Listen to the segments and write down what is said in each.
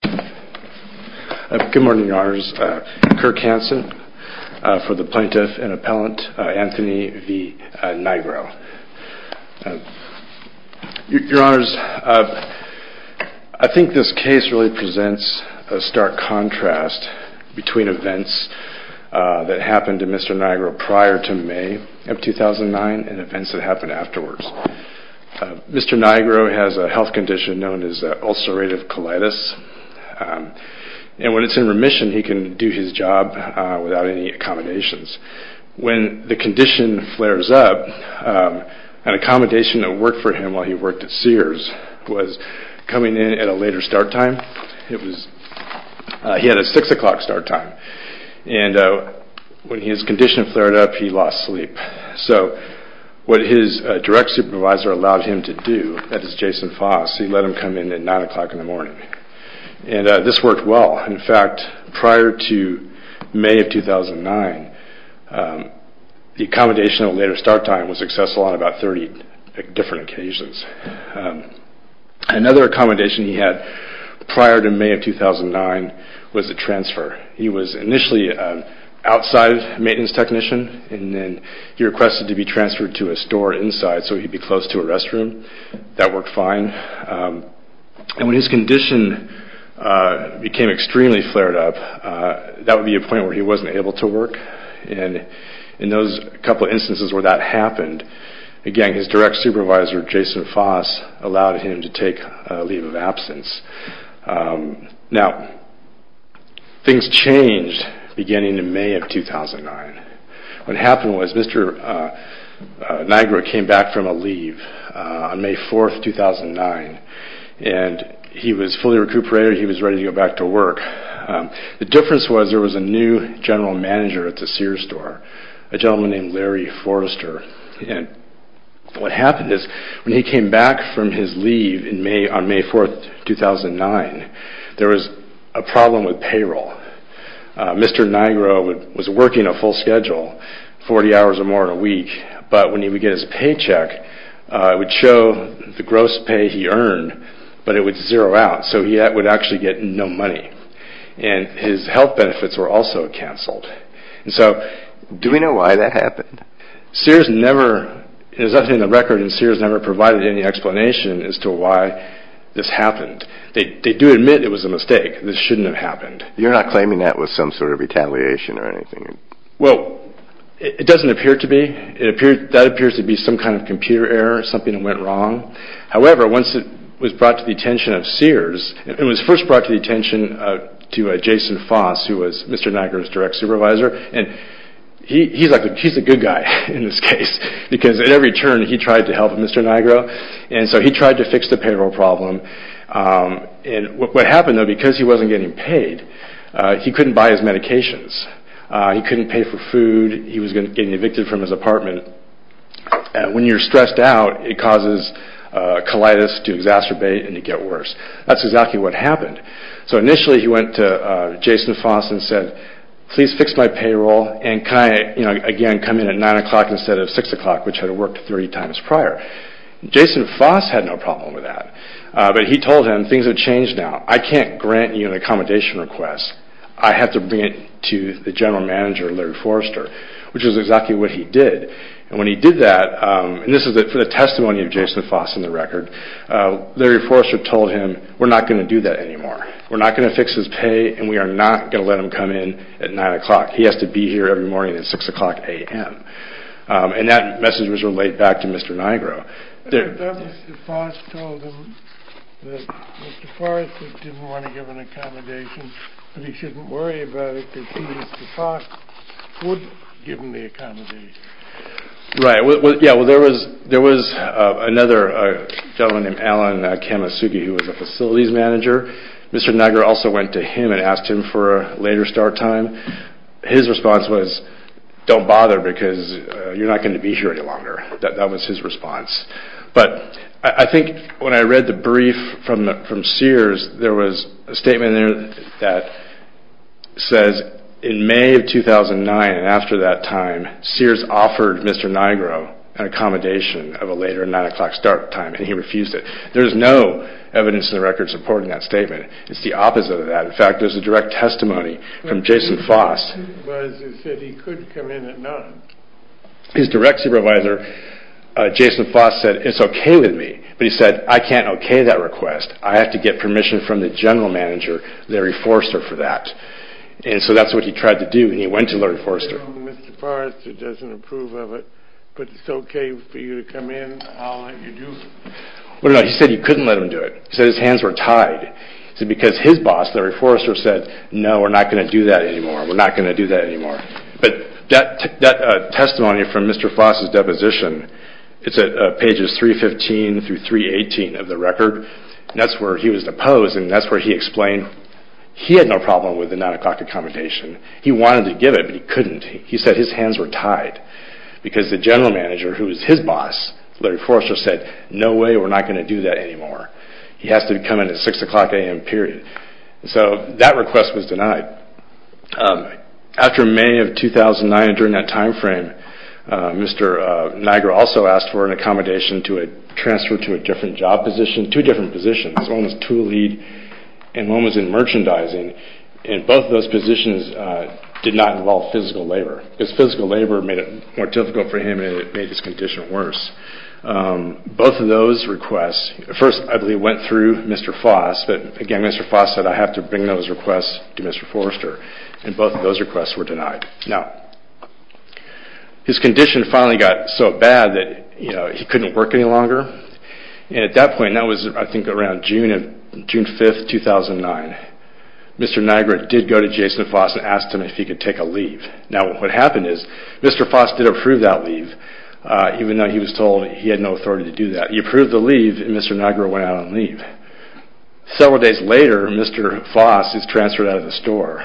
Good morning, your honors. Kirk Hanson for the plaintiff and appellant, Anthony v. Nigro. Your honors, I think this case really presents a stark contrast between events that happened to Mr. Nigro prior to May of 2009 and events that happened afterwards. Mr. Nigro has a health condition known as ulcerative colitis and when it's in remission he can do his job without any accommodations. When the condition flares up, an accommodation that worked for him while he worked at Sears was coming in at a later start time. He had a 6 o'clock start time and when his condition flared up he lost sleep. So what his direct supervisor allowed him to do, that is Jason Foss, he let him come in at 9 o'clock in the morning. This worked well. In fact, prior to May of 2009, the accommodation at a later start time was successful on about 30 different occasions. Another accommodation he had prior to May of 2009 was a transfer. He was initially an outside maintenance technician and then he requested to be transferred to a store inside so he'd be close to a restroom. That worked fine. And when his condition became extremely flared up, that would be a point where he wasn't able to work. And in those couple instances where that happened, again his direct supervisor, Jason Foss, allowed him to take a leave of absence. Now, things changed beginning in May of 2009. What happened was Mr. Nigro came back from a leave on May 4, 2009 and he was fully recuperated. He was ready to go back to work. The difference was there was a new general manager at the Sears store, a gentleman named Larry Forrester. And what happened is when he came back from his leave on May 4, 2009, there was a problem with payroll. Mr. Nigro was working a full schedule, 40 hours or more in a week, but when he would get his paycheck, it would show the gross pay he earned, but it would zero out, so he would actually get no money. And his health benefits were also canceled. Do we know why that happened? Sears never, there's nothing in the record and Sears never provided any explanation as to why this happened. They do admit it was a mistake. This shouldn't have happened. You're not claiming that was some sort of retaliation or anything? Well, it doesn't appear to be. That appears to be some kind of computer error, something that went wrong. However, once it was brought to the attention of Sears, it was first brought to the attention of Jason Foss, who was Mr. Nigro's direct supervisor, and he's a good guy in this case, because at every turn he tried to help Mr. Nigro, and so he tried to fix the payroll problem. What happened though, because he wasn't getting paid, he couldn't buy his medications. He couldn't pay for food. He was getting evicted from his apartment. When you're stressed out, it causes colitis to exacerbate and to get worse. That's exactly what happened. So initially he went to Jason Foss and said, please fix my payroll and can I again come in at 9 o'clock instead of 6 o'clock, which had worked 30 times prior. Jason Foss had no problem with that, but he told him, things have changed now. I can't grant you an accommodation request. I have to bring it to the general manager, Larry Forrester, which is exactly what he did. When he did that, and this is the testimony of Jason Foss in the record, Larry Forrester told him, we're not going to do that anymore. We're not going to fix his pay and we are not going to let him come in at 9 o'clock. He has to be here every morning at 6 o'clock a.m. That message was relayed back to Mr. Nigro. Mr. Foss told him that Mr. Forrester didn't want to give him an accommodation, but he shouldn't worry about it because he, Mr. Foss, would give him the accommodation. There was another gentleman named Alan Kamasugi who was a facilities manager. Mr. Nigro also went to him and asked him for a later start time. His response was, don't bother because you're not going to be here any longer. That was his response. But I think when I read the brief from Sears, there was a statement in there that says, in May of 2009 and after that time, Sears offered Mr. Nigro an accommodation of a later 9 o'clock start time and he refused it. There is no evidence in the record supporting that statement. It's the opposite of that. In fact, there's a direct testimony from Jason Foss. His direct supervisor, Jason Foss, said, it's okay with me. But he said, I can't okay that request. I have to get permission from the general manager, Larry Forrester, for that. And so that's what he tried to do and he went to Larry Forrester. He said he couldn't let him do it. He said his hands were tied. He said because his boss, Larry Forrester, said, no, we're not going to do that anymore. We're not going to do that anymore. But that testimony from Mr. Foss' deposition, it's at pages 315 through 318 of the record. That's where he was deposed and that's where he explained he had no problem with the 9 o'clock accommodation. He wanted to give it but he couldn't. He said his hands were tied because the general manager, who was his boss, Larry Forrester, said, no way, we're not going to do that anymore. He has to come in at 6 o'clock a.m. period. So that request was denied. After May of 2009, during that time frame, Mr. Niagara also asked for an accommodation to transfer to a different job position, two different positions. One was tool lead and one was in merchandising. And both of those positions did not involve physical labor. Because physical labor made it more difficult for him and it made his condition worse. Both of those requests, first I believe went through Mr. Foss, but again Mr. Foss said I have to bring those requests to Mr. Forrester. And both of those requests were denied. Now, his condition finally got so bad that he couldn't work any longer. And at that point, that was I think around June 5, 2009, Mr. Niagara did go to Jason Foss and asked him if he could take a leave. Now what happened is Mr. Foss did approve that leave, even though he was told he had no authority to do that. He approved the leave and Mr. Niagara went out on leave. Several days later, Mr. Foss is transferred out of the store.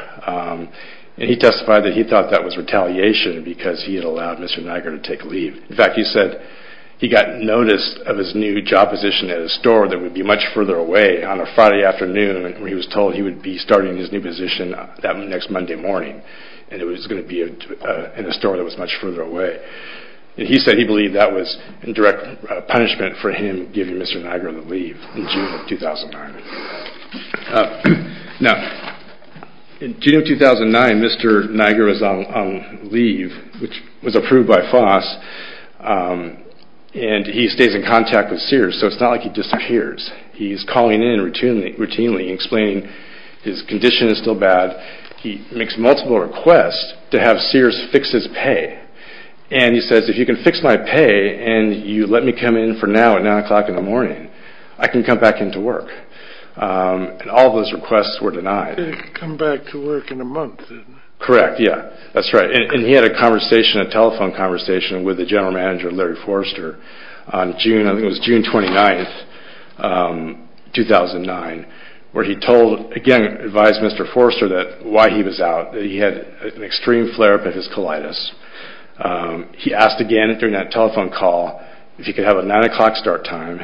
And he testified that he thought that was retaliation because he had allowed Mr. Niagara to take leave. In fact, he said he got notice of his new job position at a store that would be much further away on a Friday afternoon where he was told he would be starting his new position that next Monday morning. And it was going to be in a store that was much further away. And he said he believed that was indirect punishment for him giving Mr. Niagara the leave in June of 2009. Now, in June of 2009, Mr. Niagara was on leave, which was approved by Foss, and he stays in contact with Sears. So it's not like he disappears. He's calling in routinely and explaining his condition is still bad. He makes multiple requests to have Sears fix his pay. And he says, if you can fix my pay and you let me come in for now at 9 o'clock in the morning, I can come back in to work. And all those requests were denied. He could come back to work in a month. Correct, yeah. That's right. And he had a telephone conversation with the general manager, Larry Forster, on June 29, 2009, where he told, again advised Mr. Forster why he was out, that he had an extreme flare-up of his colitis. He asked again during that telephone call if he could have a 9 o'clock start time,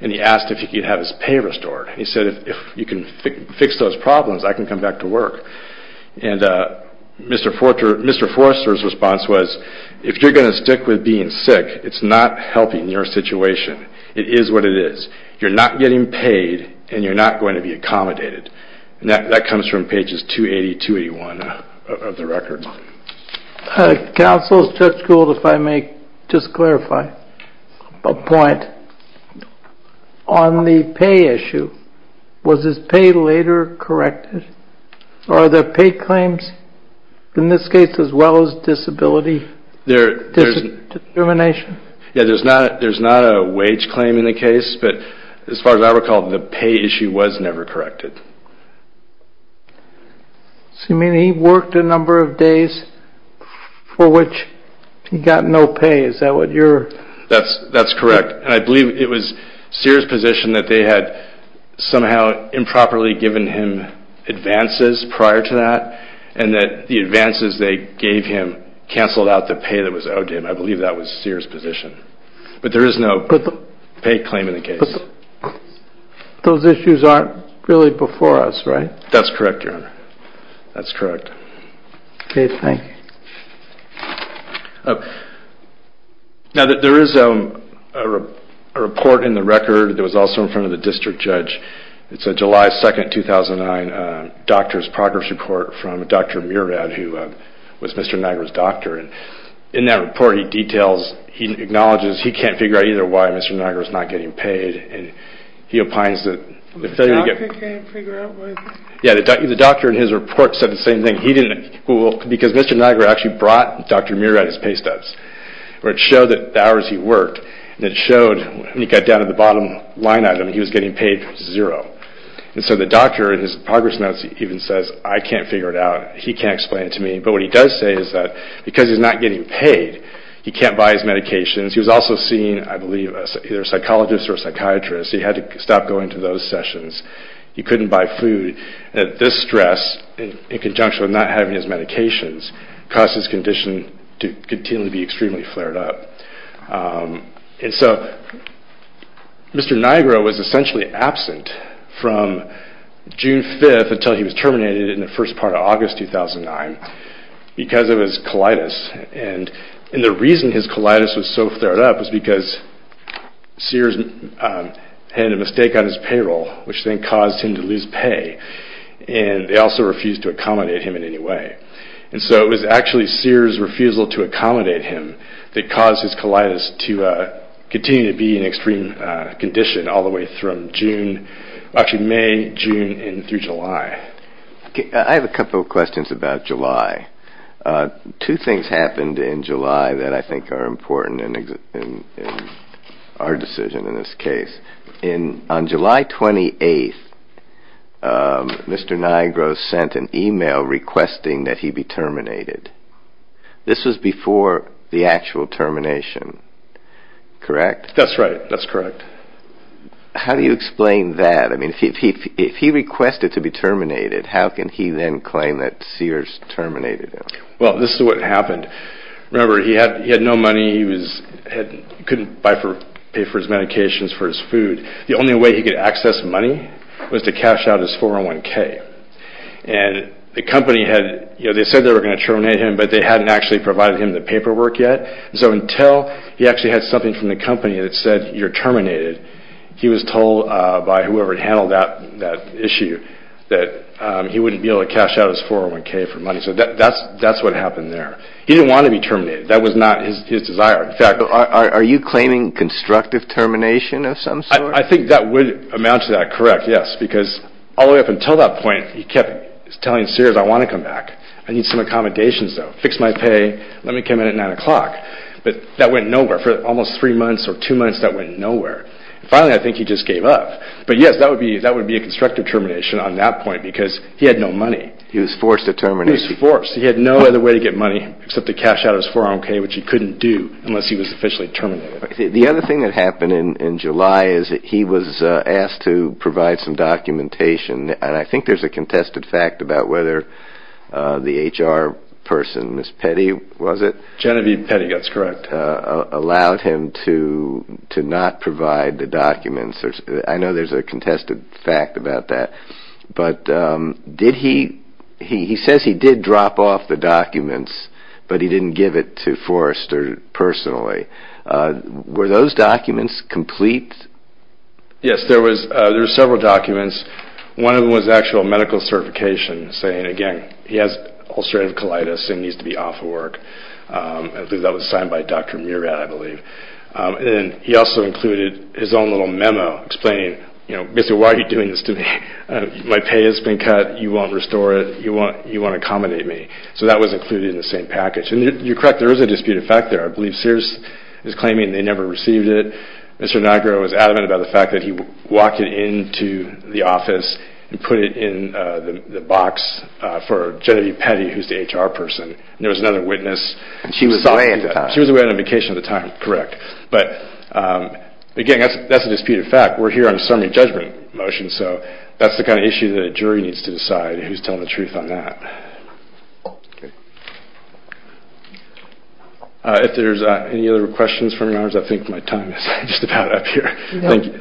and he asked if he could have his pay restored. He said, if you can fix those problems, I can come back to work. And Mr. Forster's response was, if you're going to stick with being sick, it's not helping your situation. It is what it is. You're not getting paid, and you're not going to be accommodated. And that comes from pages 280 and 281 of the record. Counsel, Judge Gould, if I may just clarify a point. On the pay issue, was his pay later corrected, or are there pay claims in this case as well as disability determination? Yeah, there's not a wage claim in the case, but as far as I recall, the pay issue was never corrected. So you mean he worked a number of days for which he got no pay, is that what you're... That's correct. And I believe it was Sears' position that they had somehow improperly given him advances prior to that, and that the advances they gave him canceled out the pay that was owed to him. I believe that was Sears' position. But there is no pay claim in the case. Those issues aren't really before us, right? That's correct, Your Honor. That's correct. Okay, thank you. Now, there is a report in the record that was also in front of the district judge. It's a July 2, 2009 doctor's progress report from Dr. Murad, who was Mr. Niagara's doctor. In that report, he acknowledges he can't figure out either why Mr. Niagara is not getting paid, and he opines that... The doctor can't figure out why... Yeah, the doctor in his report said the same thing. Because Mr. Niagara actually brought Dr. Murad his pay stubs, where it showed the hours he worked, and it showed when he got down to the bottom line item, he was getting paid zero. And so the doctor in his progress notes even says, I can't figure it out. He can't explain it to me. But what he does say is that because he's not getting paid, he can't buy his medications. He was also seeing, I believe, either a psychologist or a psychiatrist. He had to stop going to those sessions. He couldn't buy food. This stress, in conjunction with not having his medications, caused his condition to continue to be extremely flared up. And so Mr. Niagara was essentially absent from June 5th until he was terminated in the first part of August 2009 because of his colitis. And the reason his colitis was so flared up was because Sears had a mistake on his payroll, which then caused him to lose pay, and they also refused to accommodate him in any way. And so it was actually Sears' refusal to accommodate him that caused his colitis to continue to be in extreme condition all the way through May, June, and through July. I have a couple of questions about July. Two things happened in July that I think are important in our decision in this case. On July 28th, Mr. Niagara sent an email requesting that he be terminated. This was before the actual termination, correct? That's right. That's correct. How do you explain that? I mean, if he requested to be terminated, how can he then claim that Sears terminated him? Well, this is what happened. Remember, he had no money. He couldn't pay for his medications, for his food. The only way he could access money was to cash out his 401K. And the company had said they were going to terminate him, but they hadn't actually provided him the paperwork yet. So until he actually had something from the company that said, you're terminated, he was told by whoever handled that issue that he wouldn't be able to cash out his 401K for money. So that's what happened there. He didn't want to be terminated. That was not his desire. Are you claiming constructive termination of some sort? I think that would amount to that. Correct, yes. Because all the way up until that point, he kept telling Sears, I want to come back. I need some accommodations, though. Fix my pay. Let me come in at 9 o'clock. But that went nowhere. For almost three months or two months, that went nowhere. Finally, I think he just gave up. But yes, that would be a constructive termination on that point because he had no money. He was forced to terminate him. He was forced. He had no other way to get money except to cash out his 401K, which he couldn't do unless he was officially terminated. The other thing that happened in July is that he was asked to provide some documentation, and I think there's a contested fact about whether the HR person, Miss Petty, was it? Genevieve Petty, that's correct. Allowed him to not provide the documents. I know there's a contested fact about that. But he says he did drop off the documents, but he didn't give it to Forrester personally. Were those documents complete? Yes, there were several documents. One of them was actual medical certification saying, again, he has ulcerative colitis and needs to be off of work. I believe that was signed by Dr. Murat, I believe. He also included his own little memo explaining, basically, why are you doing this to me? My pay has been cut. You won't restore it. You won't accommodate me. So that was included in the same package. And you're correct, there is a disputed fact there. I believe Sears is claiming they never received it. Mr. Nagro was adamant about the fact that he walked it into the office and put it in the box for Genevieve Petty, who's the HR person. There was another witness. She was away at the time. She was away on a vacation at the time, correct. But, again, that's a disputed fact. We're here on a summary judgment motion, so that's the kind of issue that a jury needs to decide who's telling the truth on that. If there's any other questions from yours, I think my time is just about up here.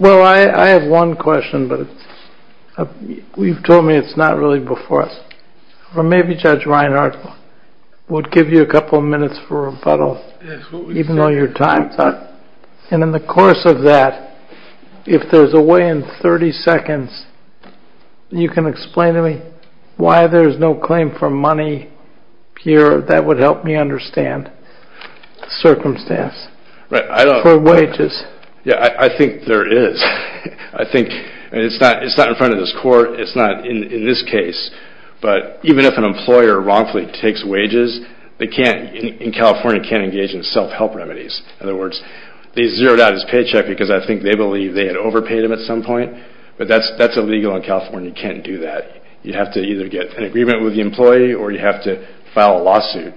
Well, I have one question, but you've told me it's not really before us. Well, maybe Judge Reinhart would give you a couple of minutes for rebuttal, even though your time's up. And in the course of that, if there's a way in 30 seconds, you can explain to me why there's no claim for money here. That would help me understand the circumstance for wages. Yeah, I think there is. I think it's not in front of this Court. It's not in this case. But even if an employer wrongfully takes wages, they can't, in California, can't engage in self-help remedies. In other words, they zeroed out his paycheck because I think they believe they had overpaid him at some point. But that's illegal in California. You can't do that. You have to either get an agreement with the employee or you have to file a lawsuit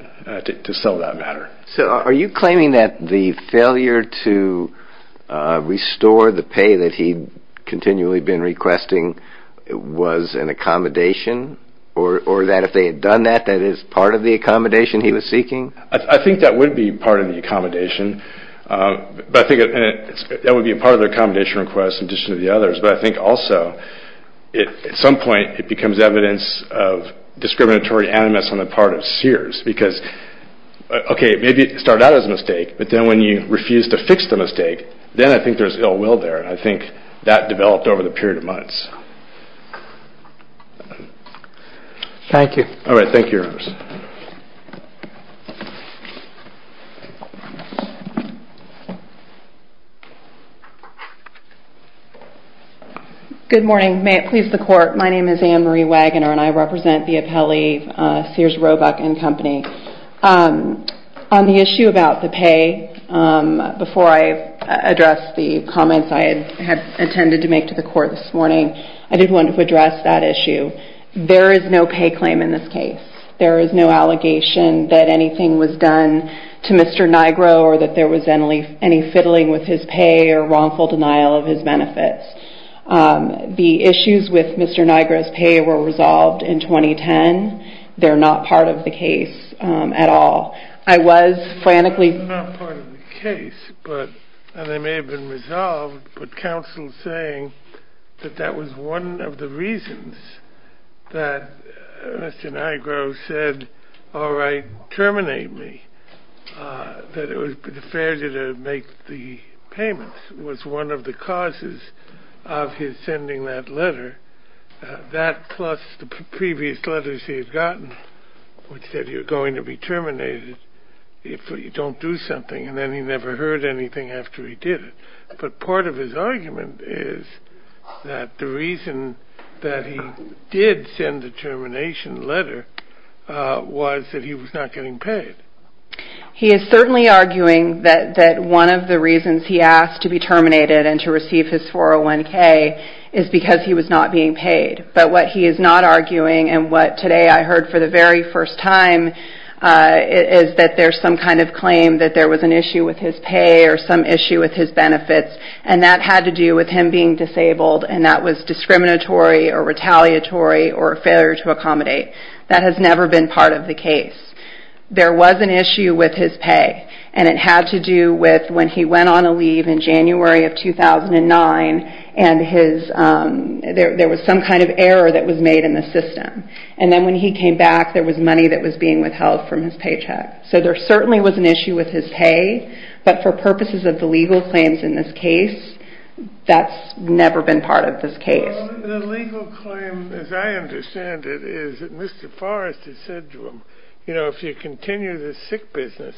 to settle that matter. So are you claiming that the failure to restore the pay that he'd continually been requesting was an accommodation? Or that if they had done that, that is part of the accommodation he was seeking? I think that would be part of the accommodation. But I think that would be part of the accommodation request in addition to the others. But I think also, at some point, it becomes evidence of discriminatory animus on the part of Sears. Because, okay, maybe it started out as a mistake, but then when you refuse to fix the mistake, then I think there's ill will there. And I think that developed over the period of months. Thank you. All right. Thank you, Your Honor. Good morning. May it please the Court. My name is Anne Marie Wagoner, and I represent the appellee Sears Roebuck & Company. On the issue about the pay, before I address the comments I had intended to make to the Court this morning, I did want to address that issue. There is no pay claim in this case. There is no allegation that anything was done to Mr. Nigro or that there was any fiddling with his pay or wrongful denial of his benefits. The issues with Mr. Nigro's pay were resolved in 2010. They're not part of the case at all. I was frantically... They're not part of the case, and they may have been resolved, but counsel saying that that was one of the reasons that Mr. Nigro said, all right, terminate me, that it was fair to make the payments, was one of the causes of his sending that letter. That plus the previous letters he had gotten, which said you're going to be terminated if you don't do something, and then he never heard anything after he did it. But part of his argument is that the reason that he did send the termination letter was that he was not getting paid. He is certainly arguing that one of the reasons he asked to be terminated and to receive his 401K is because he was not being paid. But what he is not arguing and what today I heard for the very first time is that there's some kind of claim that there was an issue with his pay or some issue with his benefits, and that had to do with him being disabled and that was discriminatory or retaliatory or a failure to accommodate. That has never been part of the case. There was an issue with his pay, and it had to do with when he went on a leave in January of 2009 and there was some kind of error that was made in the system. And then when he came back, there was money that was being withheld from his paycheck. So there certainly was an issue with his pay, but for purposes of the legal claims in this case, that's never been part of this case. The legal claim, as I understand it, is that Mr. Forrest has said to him, you know, if you continue this sick business,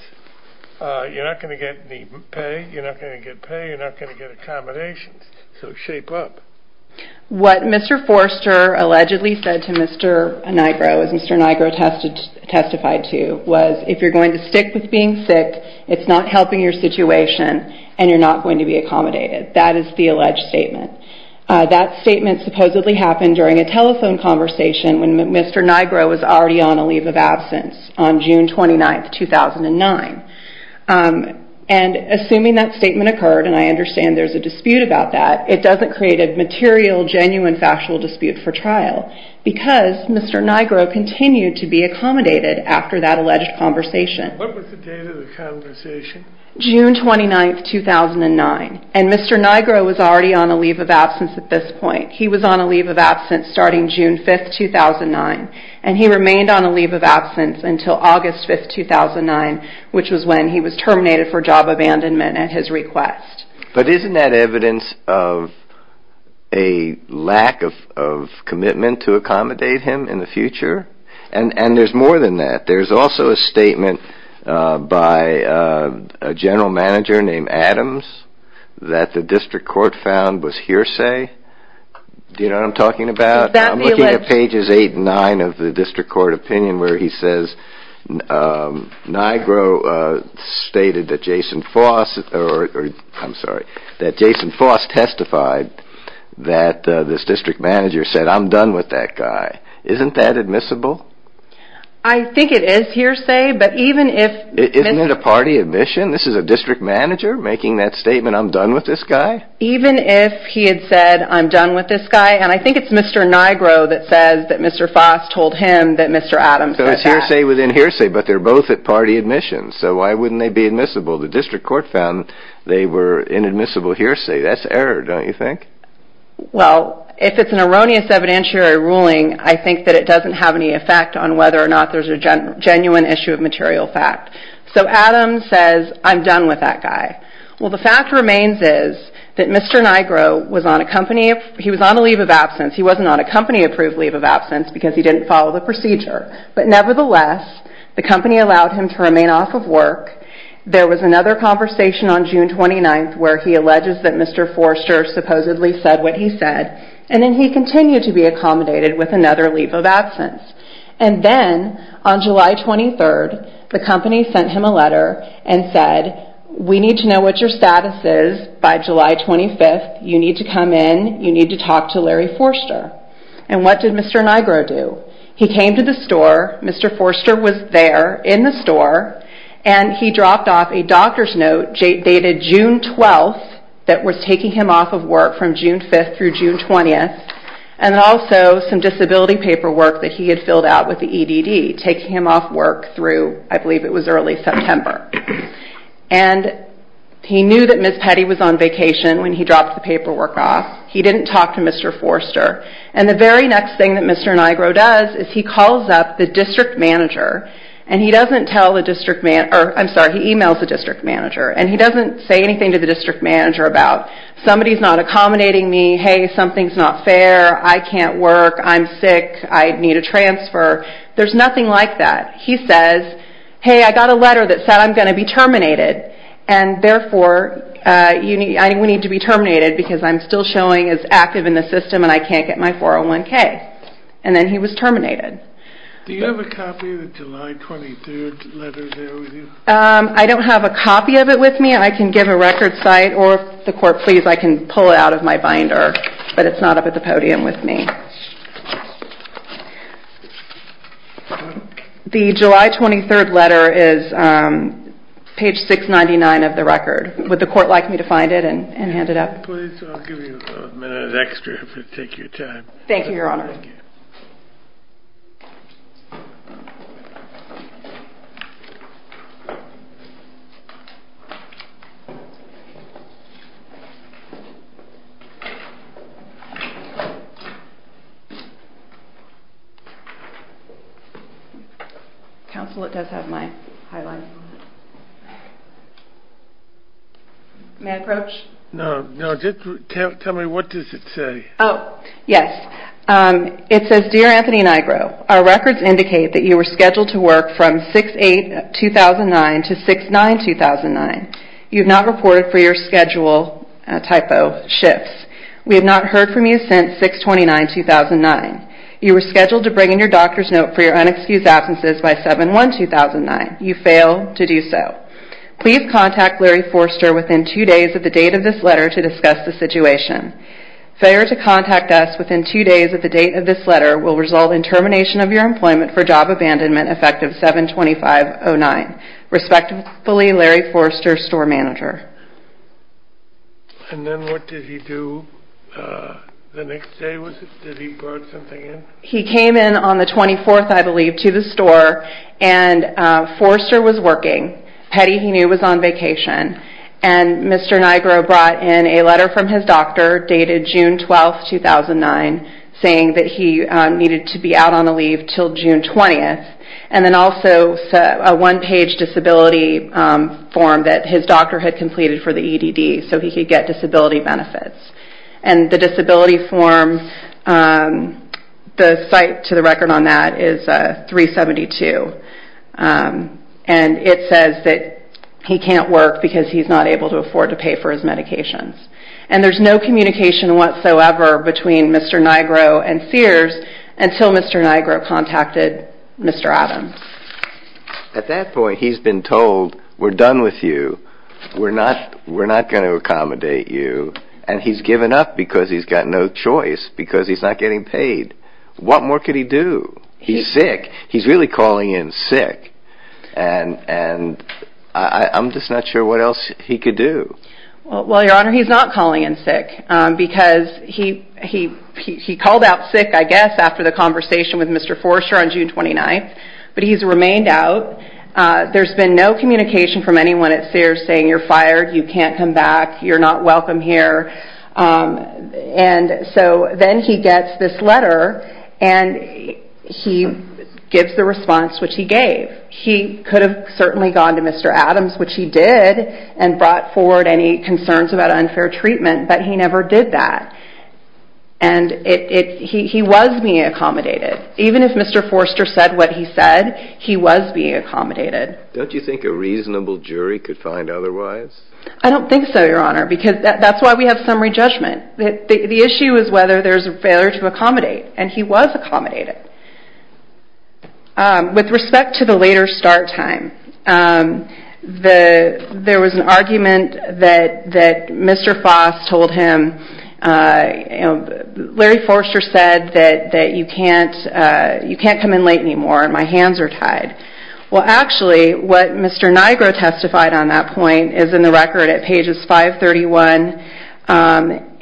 you're not going to get any pay, you're not going to get pay, you're not going to get accommodations, so shape up. What Mr. Forrester allegedly said to Mr. Nigro, as Mr. Nigro testified to, was if you're going to stick with being sick, it's not helping your situation, and you're not going to be accommodated. That is the alleged statement. That statement supposedly happened during a telephone conversation when Mr. Nigro was already on a leave of absence on June 29, 2009. And assuming that statement occurred, and I understand there's a dispute about that, it doesn't create a material, genuine, factual dispute for trial because Mr. Nigro continued to be accommodated after that alleged conversation. What was the date of the conversation? June 29, 2009, and Mr. Nigro was already on a leave of absence at this point. He was on a leave of absence starting June 5, 2009, and he remained on a leave of absence until August 5, 2009, which was when he was terminated for job abandonment at his request. But isn't that evidence of a lack of commitment to accommodate him in the future? And there's more than that. There's also a statement by a general manager named Adams that the district court found was hearsay. Do you know what I'm talking about? I'm looking at pages 8 and 9 of the district court opinion where he says Nigro stated that Jason Foss testified that this district manager said, I'm done with that guy. Isn't that admissible? I think it is hearsay, but even if Isn't it a party admission? This is a district manager making that statement, I'm done with this guy? Even if he had said, I'm done with this guy, and I think it's Mr. Nigro that says that Mr. Foss told him that Mr. Adams said that. So it's hearsay within hearsay, but they're both at party admission, so why wouldn't they be admissible? The district court found they were inadmissible hearsay. That's error, don't you think? Well, if it's an erroneous evidentiary ruling, I think that it doesn't have any effect on whether or not there's a genuine issue of material fact. So Adams says, I'm done with that guy. Well, the fact remains is that Mr. Nigro was on a leave of absence. He wasn't on a company-approved leave of absence because he didn't follow the procedure. But nevertheless, the company allowed him to remain off of work. There was another conversation on June 29th where he alleges that Mr. Forster supposedly said what he said, and then he continued to be accommodated with another leave of absence. And then on July 23rd, the company sent him a letter and said, we need to know what your status is by July 25th. You need to come in. You need to talk to Larry Forster. And what did Mr. Nigro do? He came to the store. Mr. Forster was there in the store, and he dropped off a doctor's note dated June 12th that was taking him off of work from June 5th through June 20th and also some disability paperwork that he had filled out with the EDD, taking him off work through, I believe it was early September. And he knew that Ms. Petty was on vacation when he dropped the paperwork off. He didn't talk to Mr. Forster. And the very next thing that Mr. Nigro does is he calls up the district manager, and he doesn't tell the district manager, or I'm sorry, he emails the district manager, and he doesn't say anything to the district manager about somebody's not accommodating me, hey, something's not fair, I can't work, I'm sick, I need a transfer. There's nothing like that. He says, hey, I got a letter that said I'm going to be terminated, and therefore we need to be terminated because I'm still showing as active in the system and I can't get my 401K. And then he was terminated. Do you have a copy of the July 23rd letter there with you? I don't have a copy of it with me. I can give a record site, or if the court please, I can pull it out of my binder, but it's not up at the podium with me. The July 23rd letter is page 699 of the record. Would the court like me to find it and hand it up? Please, I'll give you a minute extra if you take your time. Thank you, Your Honor. Counsel, it does have my highlights on it. May I approach? No, just tell me what does it say. Oh, yes. It says, Dear Anthony Nigro, Our records indicate that you were scheduled to work from 6-8-2009 to 6-9-2009. You have not reported for your schedule, typo, shifts. We have not heard from you since 6-29-2009. You were scheduled to bring in your doctor's note for your unexcused absences by 7-1-2009. You failed to do so. Please contact Larry Forster within two days of the date of this letter to discuss the situation. Failure to contact us within two days of the date of this letter will result in termination of your employment for job abandonment effective 7-25-09. Respectfully, Larry Forster, store manager. And then what did he do the next day? Did he bring something in? He came in on the 24th, I believe, to the store, and Forster was working. Petty, he knew, was on vacation. And Mr. Nigro brought in a letter from his doctor dated June 12, 2009, saying that he needed to be out on a leave until June 20th. And then also a one-page disability form that his doctor had completed for the EDD so he could get disability benefits. And the disability form, the site to the record on that is 372. And it says that he can't work because he's not able to afford to pay for his medications. And there's no communication whatsoever between Mr. Nigro and Sears until Mr. Nigro contacted Mr. Adams. At that point, he's been told, we're done with you. We're not going to accommodate you. And he's given up because he's got no choice because he's not getting paid. What more could he do? He's sick. He's really calling in sick. And I'm just not sure what else he could do. Well, Your Honor, he's not calling in sick because he called out sick, I guess, after the conversation with Mr. Forster on June 29th. But he's remained out. There's been no communication from anyone at Sears saying, you're fired, you can't come back, you're not welcome here. And so then he gets this letter, and he gives the response which he gave. He could have certainly gone to Mr. Adams, which he did, and brought forward any concerns about unfair treatment, but he never did that. And he was being accommodated. Even if Mr. Forster said what he said, he was being accommodated. Don't you think a reasonable jury could find otherwise? I don't think so, Your Honor, because that's why we have summary judgment. The issue is whether there's a failure to accommodate, and he was accommodated. With respect to the later start time, there was an argument that Mr. Foss told him, Larry Forster said that you can't come in late anymore and my hands are tied. Well, actually, what Mr. Nigro testified on that point is in the record at pages 531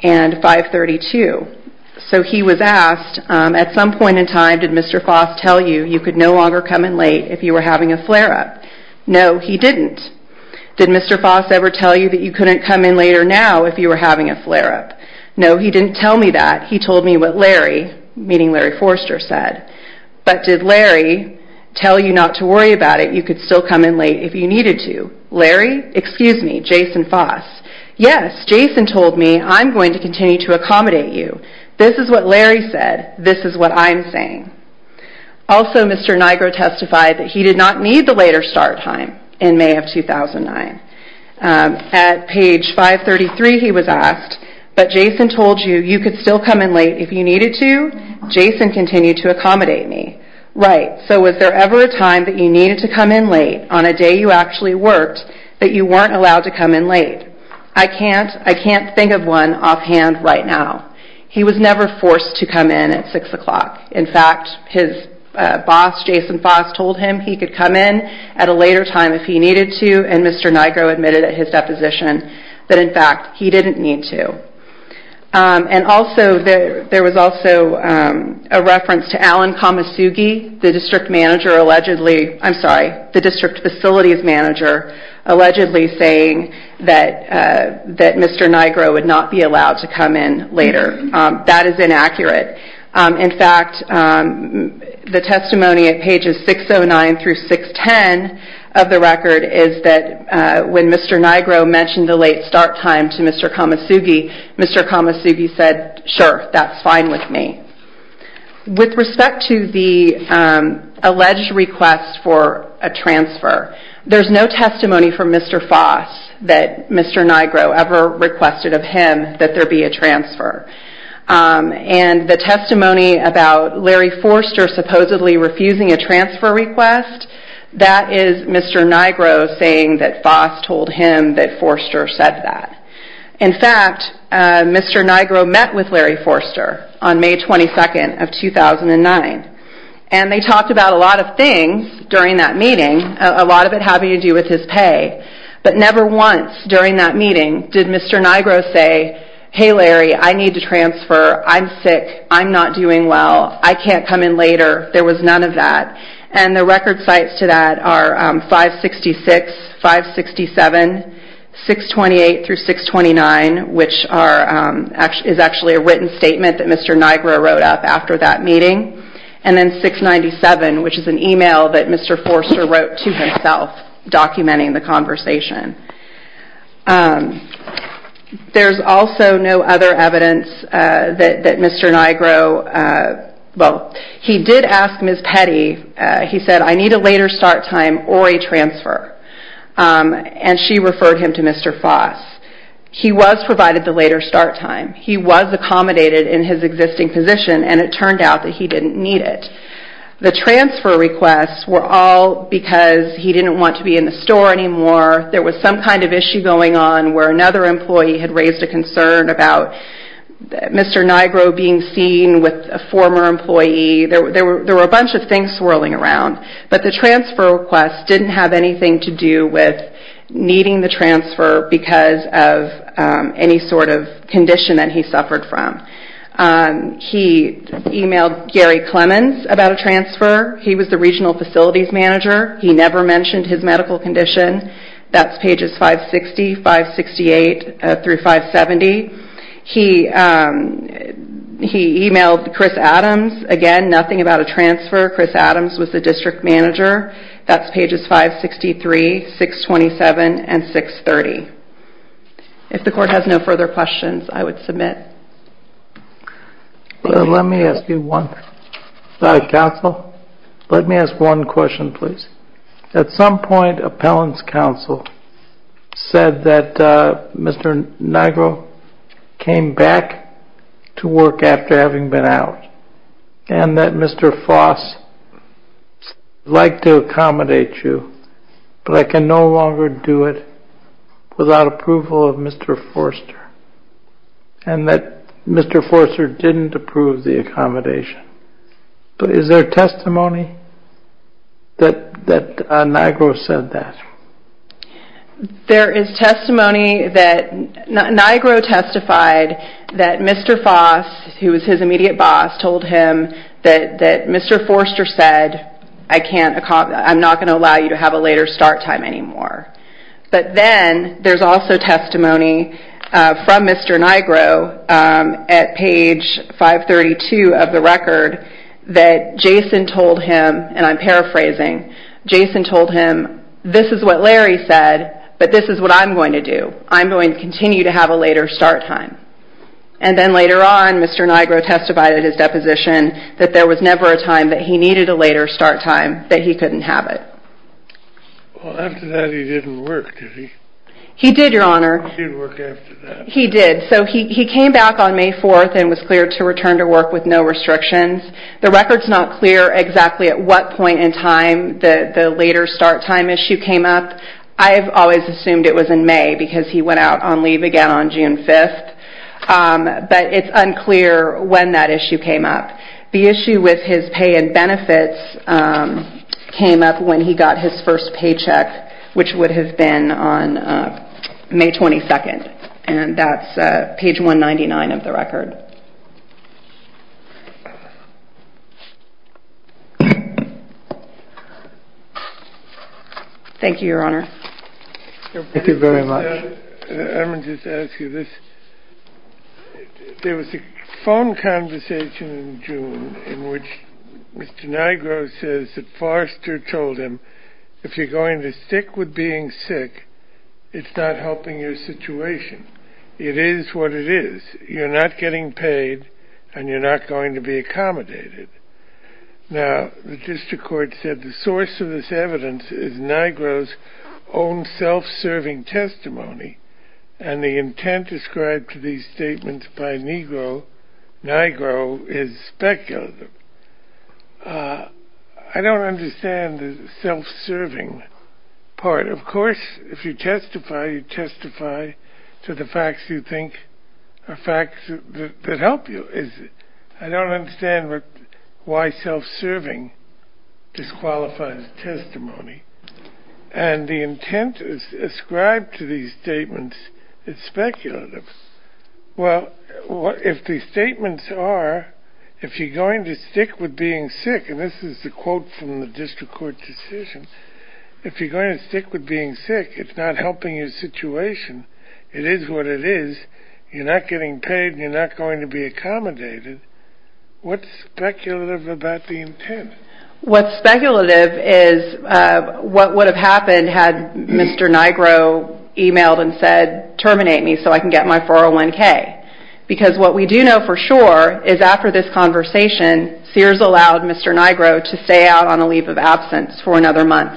and 532. So he was asked, at some point in time, did Mr. Foss tell you you could no longer come in late if you were having a flare-up? No, he didn't. Did Mr. Foss ever tell you that you couldn't come in later now if you were having a flare-up? No, he didn't tell me that. He told me what Larry, meaning Larry Forster, said. But did Larry tell you not to worry about it, you could still come in late if you needed to? Larry, excuse me, Jason Foss. Yes, Jason told me I'm going to continue to accommodate you. This is what Larry said. This is what I'm saying. Also, Mr. Nigro testified that he did not need the later start time in May of 2009. At page 533, he was asked, but Jason told you you could still come in late if you needed to? Jason continued to accommodate me. Right, so was there ever a time that you needed to come in late on a day you actually worked that you weren't allowed to come in late? I can't think of one offhand right now. He was never forced to come in at 6 o'clock. In fact, his boss, Jason Foss, told him he could come in at a later time if he needed to, and Mr. Nigro admitted at his deposition that, in fact, he didn't need to. There was also a reference to Allen Kamasugi, the district facilities manager, allegedly saying that Mr. Nigro would not be allowed to come in later. That is inaccurate. In fact, the testimony at pages 609 through 610 of the record is that when Mr. Nigro mentioned the late start time to Mr. Kamasugi, Mr. Kamasugi said, sure, that's fine with me. With respect to the alleged request for a transfer, there's no testimony from Mr. Foss that Mr. Nigro ever requested of him that there be a transfer. The testimony about Larry Forster supposedly refusing a transfer request, that is Mr. Nigro saying that Foss told him that Forster said that. In fact, Mr. Nigro met with Larry Forster on May 22nd of 2009, and they talked about a lot of things during that meeting, a lot of it having to do with his pay. But never once during that meeting did Mr. Nigro say, hey, Larry, I need to transfer. I'm sick. I'm not doing well. I can't come in later. There was none of that. And the record sites to that are 566, 567, 628 through 629, which is actually a written statement that Mr. Nigro wrote up after that meeting, and then 697, which is an email that Mr. Forster wrote to himself documenting the conversation. There's also no other evidence that Mr. Nigro, well, he did ask Ms. Petty, he said, I need a later start time or a transfer. And she referred him to Mr. Foss. He was provided the later start time. He was accommodated in his existing position, and it turned out that he didn't need it. The transfer requests were all because he didn't want to be in the store anymore. There was some kind of issue going on where another employee had raised a concern about Mr. Nigro being seen with a former employee. There were a bunch of things swirling around. But the transfer request didn't have anything to do with needing the transfer because of any sort of condition that he suffered from. He emailed Gary Clemens about a transfer. He was the regional facilities manager. He never mentioned his medical condition. That's pages 560, 568 through 570. He emailed Chris Adams. Again, nothing about a transfer. Chris Adams was the district manager. That's pages 563, 627, and 630. If the court has no further questions, I would submit. Let me ask you one. Counsel, let me ask one question, please. At some point, appellant's counsel said that Mr. Nigro came back to work after having been out and that Mr. Foss liked to accommodate you, but I can no longer do it without approval of Mr. Forster and that Mr. Forster didn't approve the accommodation. Is there testimony that Nigro said that? There is testimony that Nigro testified that Mr. Foss, who was his immediate boss, told him that Mr. Forster said, I'm not going to allow you to have a later start time anymore. But then there's also testimony from Mr. Nigro at page 532 of the record that Jason told him, and I'm paraphrasing, Jason told him, this is what Larry said, but this is what I'm going to do. I'm going to continue to have a later start time. And then later on, Mr. Nigro testified at his deposition that there was never a time that he needed a later start time, that he couldn't have it. Well, after that he didn't work, did he? He did, Your Honor. He didn't work after that. He did. So he came back on May 4th and was cleared to return to work with no restrictions. The record's not clear exactly at what point in time the later start time issue came up. I've always assumed it was in May because he went out on leave again on June 5th. But it's unclear when that issue came up. The issue with his pay and benefits came up when he got his first paycheck, which would have been on May 22nd. And that's page 199 of the record. Thank you. Thank you, Your Honor. Thank you very much. Let me just ask you this. There was a phone conversation in June in which Mr. Nigro says that Forster told him, if you're going to stick with being sick, it's not helping your situation. It is what it is. You're not getting paid, and you're not going to be accommodated. Now, the district court said the source of this evidence is Nigro's own self-serving testimony, and the intent described to these statements by Nigro is speculative. I don't understand the self-serving part. Of course, if you testify, you testify to the facts you think are facts that help you. I don't understand why self-serving disqualifies testimony. And the intent ascribed to these statements is speculative. Well, if the statements are, if you're going to stick with being sick, and this is the quote from the district court decision, if you're going to stick with being sick, it's not helping your situation. It is what it is. You're not getting paid, and you're not going to be accommodated. What's speculative about the intent? What's speculative is what would have happened had Mr. Nigro emailed and said, terminate me so I can get my 401K. Because what we do know for sure is after this conversation, Sears allowed Mr. Nigro to stay out on a leave of absence for another month.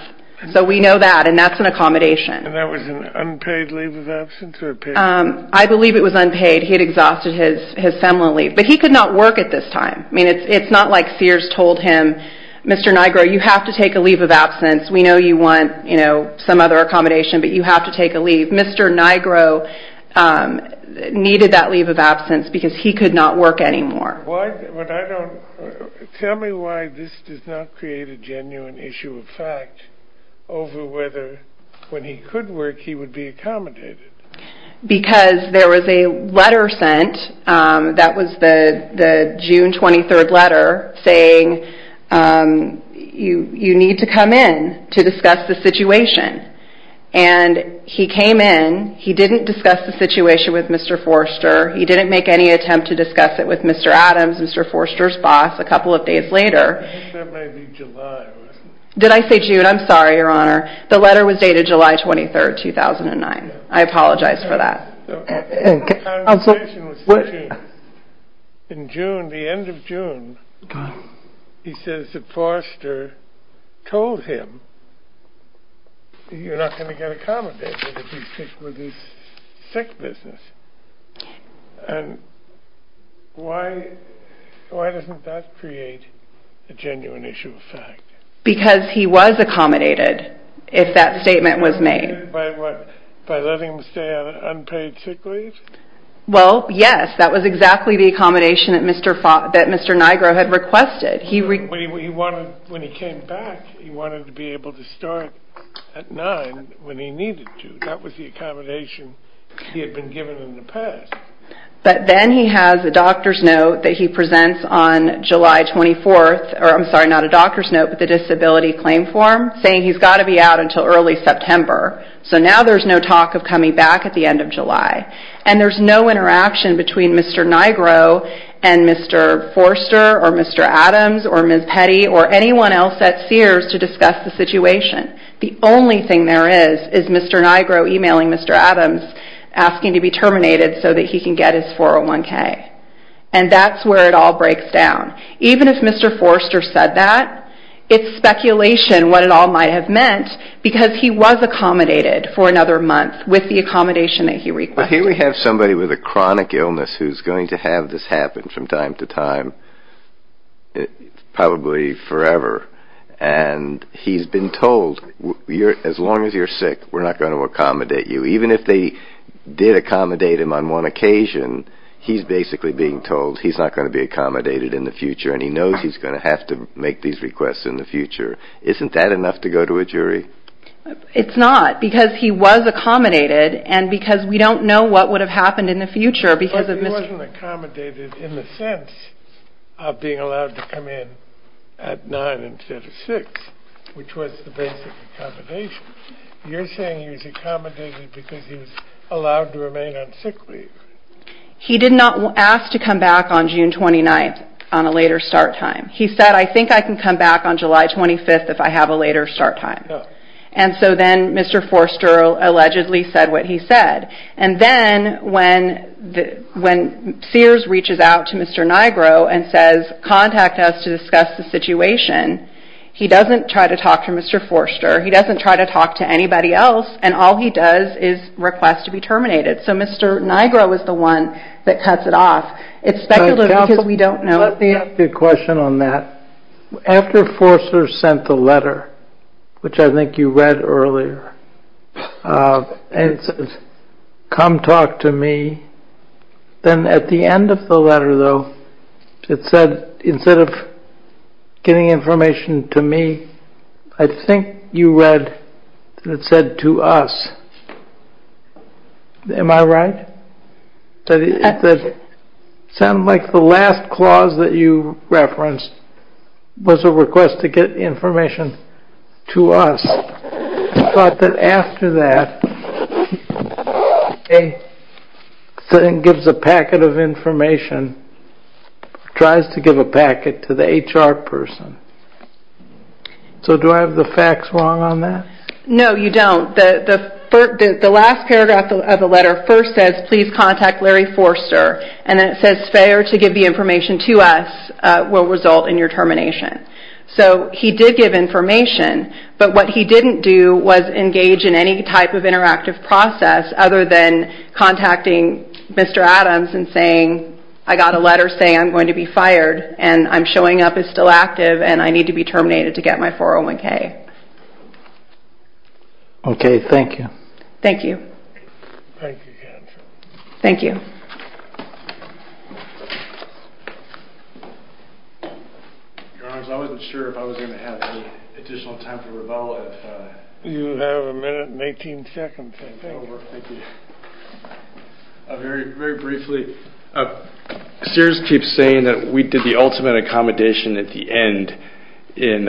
So we know that, and that's an accommodation. And that was an unpaid leave of absence? I believe it was unpaid. He had exhausted his seminal leave. But he could not work at this time. I mean, it's not like Sears told him, Mr. Nigro, you have to take a leave of absence. We know you want some other accommodation, but you have to take a leave. Mr. Nigro needed that leave of absence because he could not work anymore. Tell me why this does not create a genuine issue of fact over whether when he could work he would be accommodated. Because there was a letter sent, that was the June 23rd letter, saying you need to come in to discuss the situation. And he came in. He didn't discuss the situation with Mr. Forster. He didn't make any attempt to discuss it with Mr. Adams, Mr. Forster's boss, a couple of days later. I think that may be July or something. Did I say June? I'm sorry, Your Honor. The letter was dated July 23rd, 2009. I apologize for that. In June, the end of June, he says that Forster told him, you're not going to get accommodated if you stick with his sick business. And why doesn't that create a genuine issue of fact? Because he was accommodated, if that statement was made. By letting him stay on unpaid sick leave? Well, yes, that was exactly the accommodation that Mr. Nigro had requested. When he came back, he wanted to be able to start at 9 when he needed to. That was the accommodation he had been given in the past. But then he has a doctor's note that he presents on July 24th, or I'm sorry, not a doctor's note, but the disability claim form, saying he's got to be out until early September. So now there's no talk of coming back at the end of July. And there's no interaction between Mr. Nigro and Mr. Forster or Mr. Adams or Ms. Petty or anyone else at Sears to discuss the situation. The only thing there is is Mr. Nigro emailing Mr. Adams asking to be terminated so that he can get his 401K. And that's where it all breaks down. Even if Mr. Forster said that, it's speculation what it all might have meant because he was accommodated for another month with the accommodation that he requested. Well, here we have somebody with a chronic illness who's going to have this happen from time to time probably forever. And he's been told, as long as you're sick, we're not going to accommodate you. Even if they did accommodate him on one occasion, he's basically being told he's not going to be accommodated in the future and he knows he's going to have to make these requests in the future. Isn't that enough to go to a jury? It's not because he was accommodated and because we don't know what would have happened in the future. But he wasn't accommodated in the sense of being allowed to come in at 9 instead of 6, which was the basic accommodation. You're saying he was accommodated because he was allowed to remain on sick leave. He did not ask to come back on June 29th on a later start time. He said, I think I can come back on July 25th if I have a later start time. And so then Mr. Forster allegedly said what he said. And then when Sears reaches out to Mr. Nigro and says contact us to discuss the situation, he doesn't try to talk to Mr. Forster, he doesn't try to talk to anybody else, and all he does is request to be terminated. So Mr. Nigro is the one that cuts it off. It's speculative because we don't know. I have a question on that. After Forster sent the letter, which I think you read earlier, and said come talk to me, then at the end of the letter, though, it said instead of getting information to me, I think you read that it said to us. Am I right? It sounded like the last clause that you referenced was a request to get information to us. I thought that after that, he gives a packet of information, tries to give a packet to the HR person. So do I have the facts wrong on that? No, you don't. The last paragraph of the letter first says please contact Larry Forster, and then it says failure to give the information to us will result in your termination. So he did give information, but what he didn't do was engage in any type of interactive process other than contacting Mr. Adams and saying I got a letter saying I'm going to be fired and I'm showing up as still active and I need to be terminated to get my 401K. Okay, thank you. Thank you. Thank you, Catherine. Thank you. Your Honor, I wasn't sure if I was going to have any additional time for rebuttal. You have a minute and 18 seconds. Thank you. Thank you. Very briefly, Sears keeps saying that we did the ultimate accommodation at the end in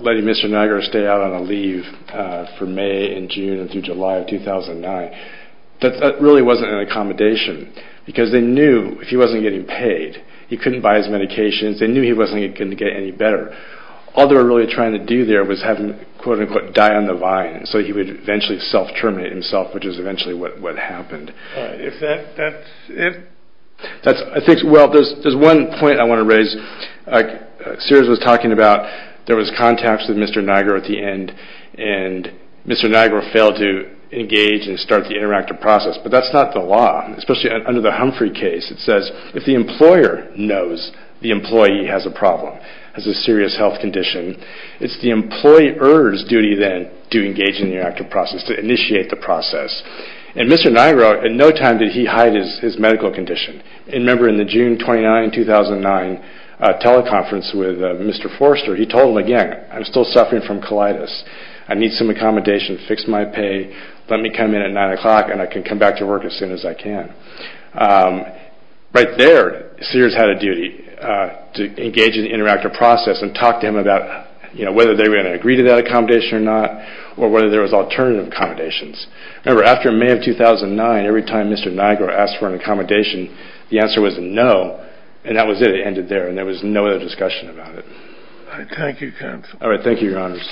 letting Mr. Niagara stay out on a leave for May and June and through July of 2009. That really wasn't an accommodation because they knew if he wasn't getting paid, he couldn't buy his medications, they knew he wasn't going to get any better. All they were really trying to do there was have him quote-unquote die on the vine so he would eventually self-terminate himself, which is eventually what happened. If that's it? I think, well, there's one point I want to raise. Sears was talking about there was contacts with Mr. Niagara at the end and Mr. Niagara failed to engage and start the interactive process, but that's not the law, especially under the Humphrey case. It says if the employer knows the employee has a problem, has a serious health condition, it's the employer's duty then to engage in the interactive process, to initiate the process. And Mr. Niagara, at no time did he hide his medical condition. Remember in the June 29, 2009 teleconference with Mr. Forster, he told him again, I'm still suffering from colitis, I need some accommodation, fix my pay, let me come in at 9 o'clock and I can come back to work as soon as I can. Right there, Sears had a duty to engage in the interactive process and talk to him about whether they were going to agree to that accommodation or not or whether there was alternative accommodations. Remember, after May of 2009, every time Mr. Niagara asked for an accommodation, the answer was no, and that was it. It ended there, and there was no other discussion about it. Thank you, counsel. All right, thank you, your honors.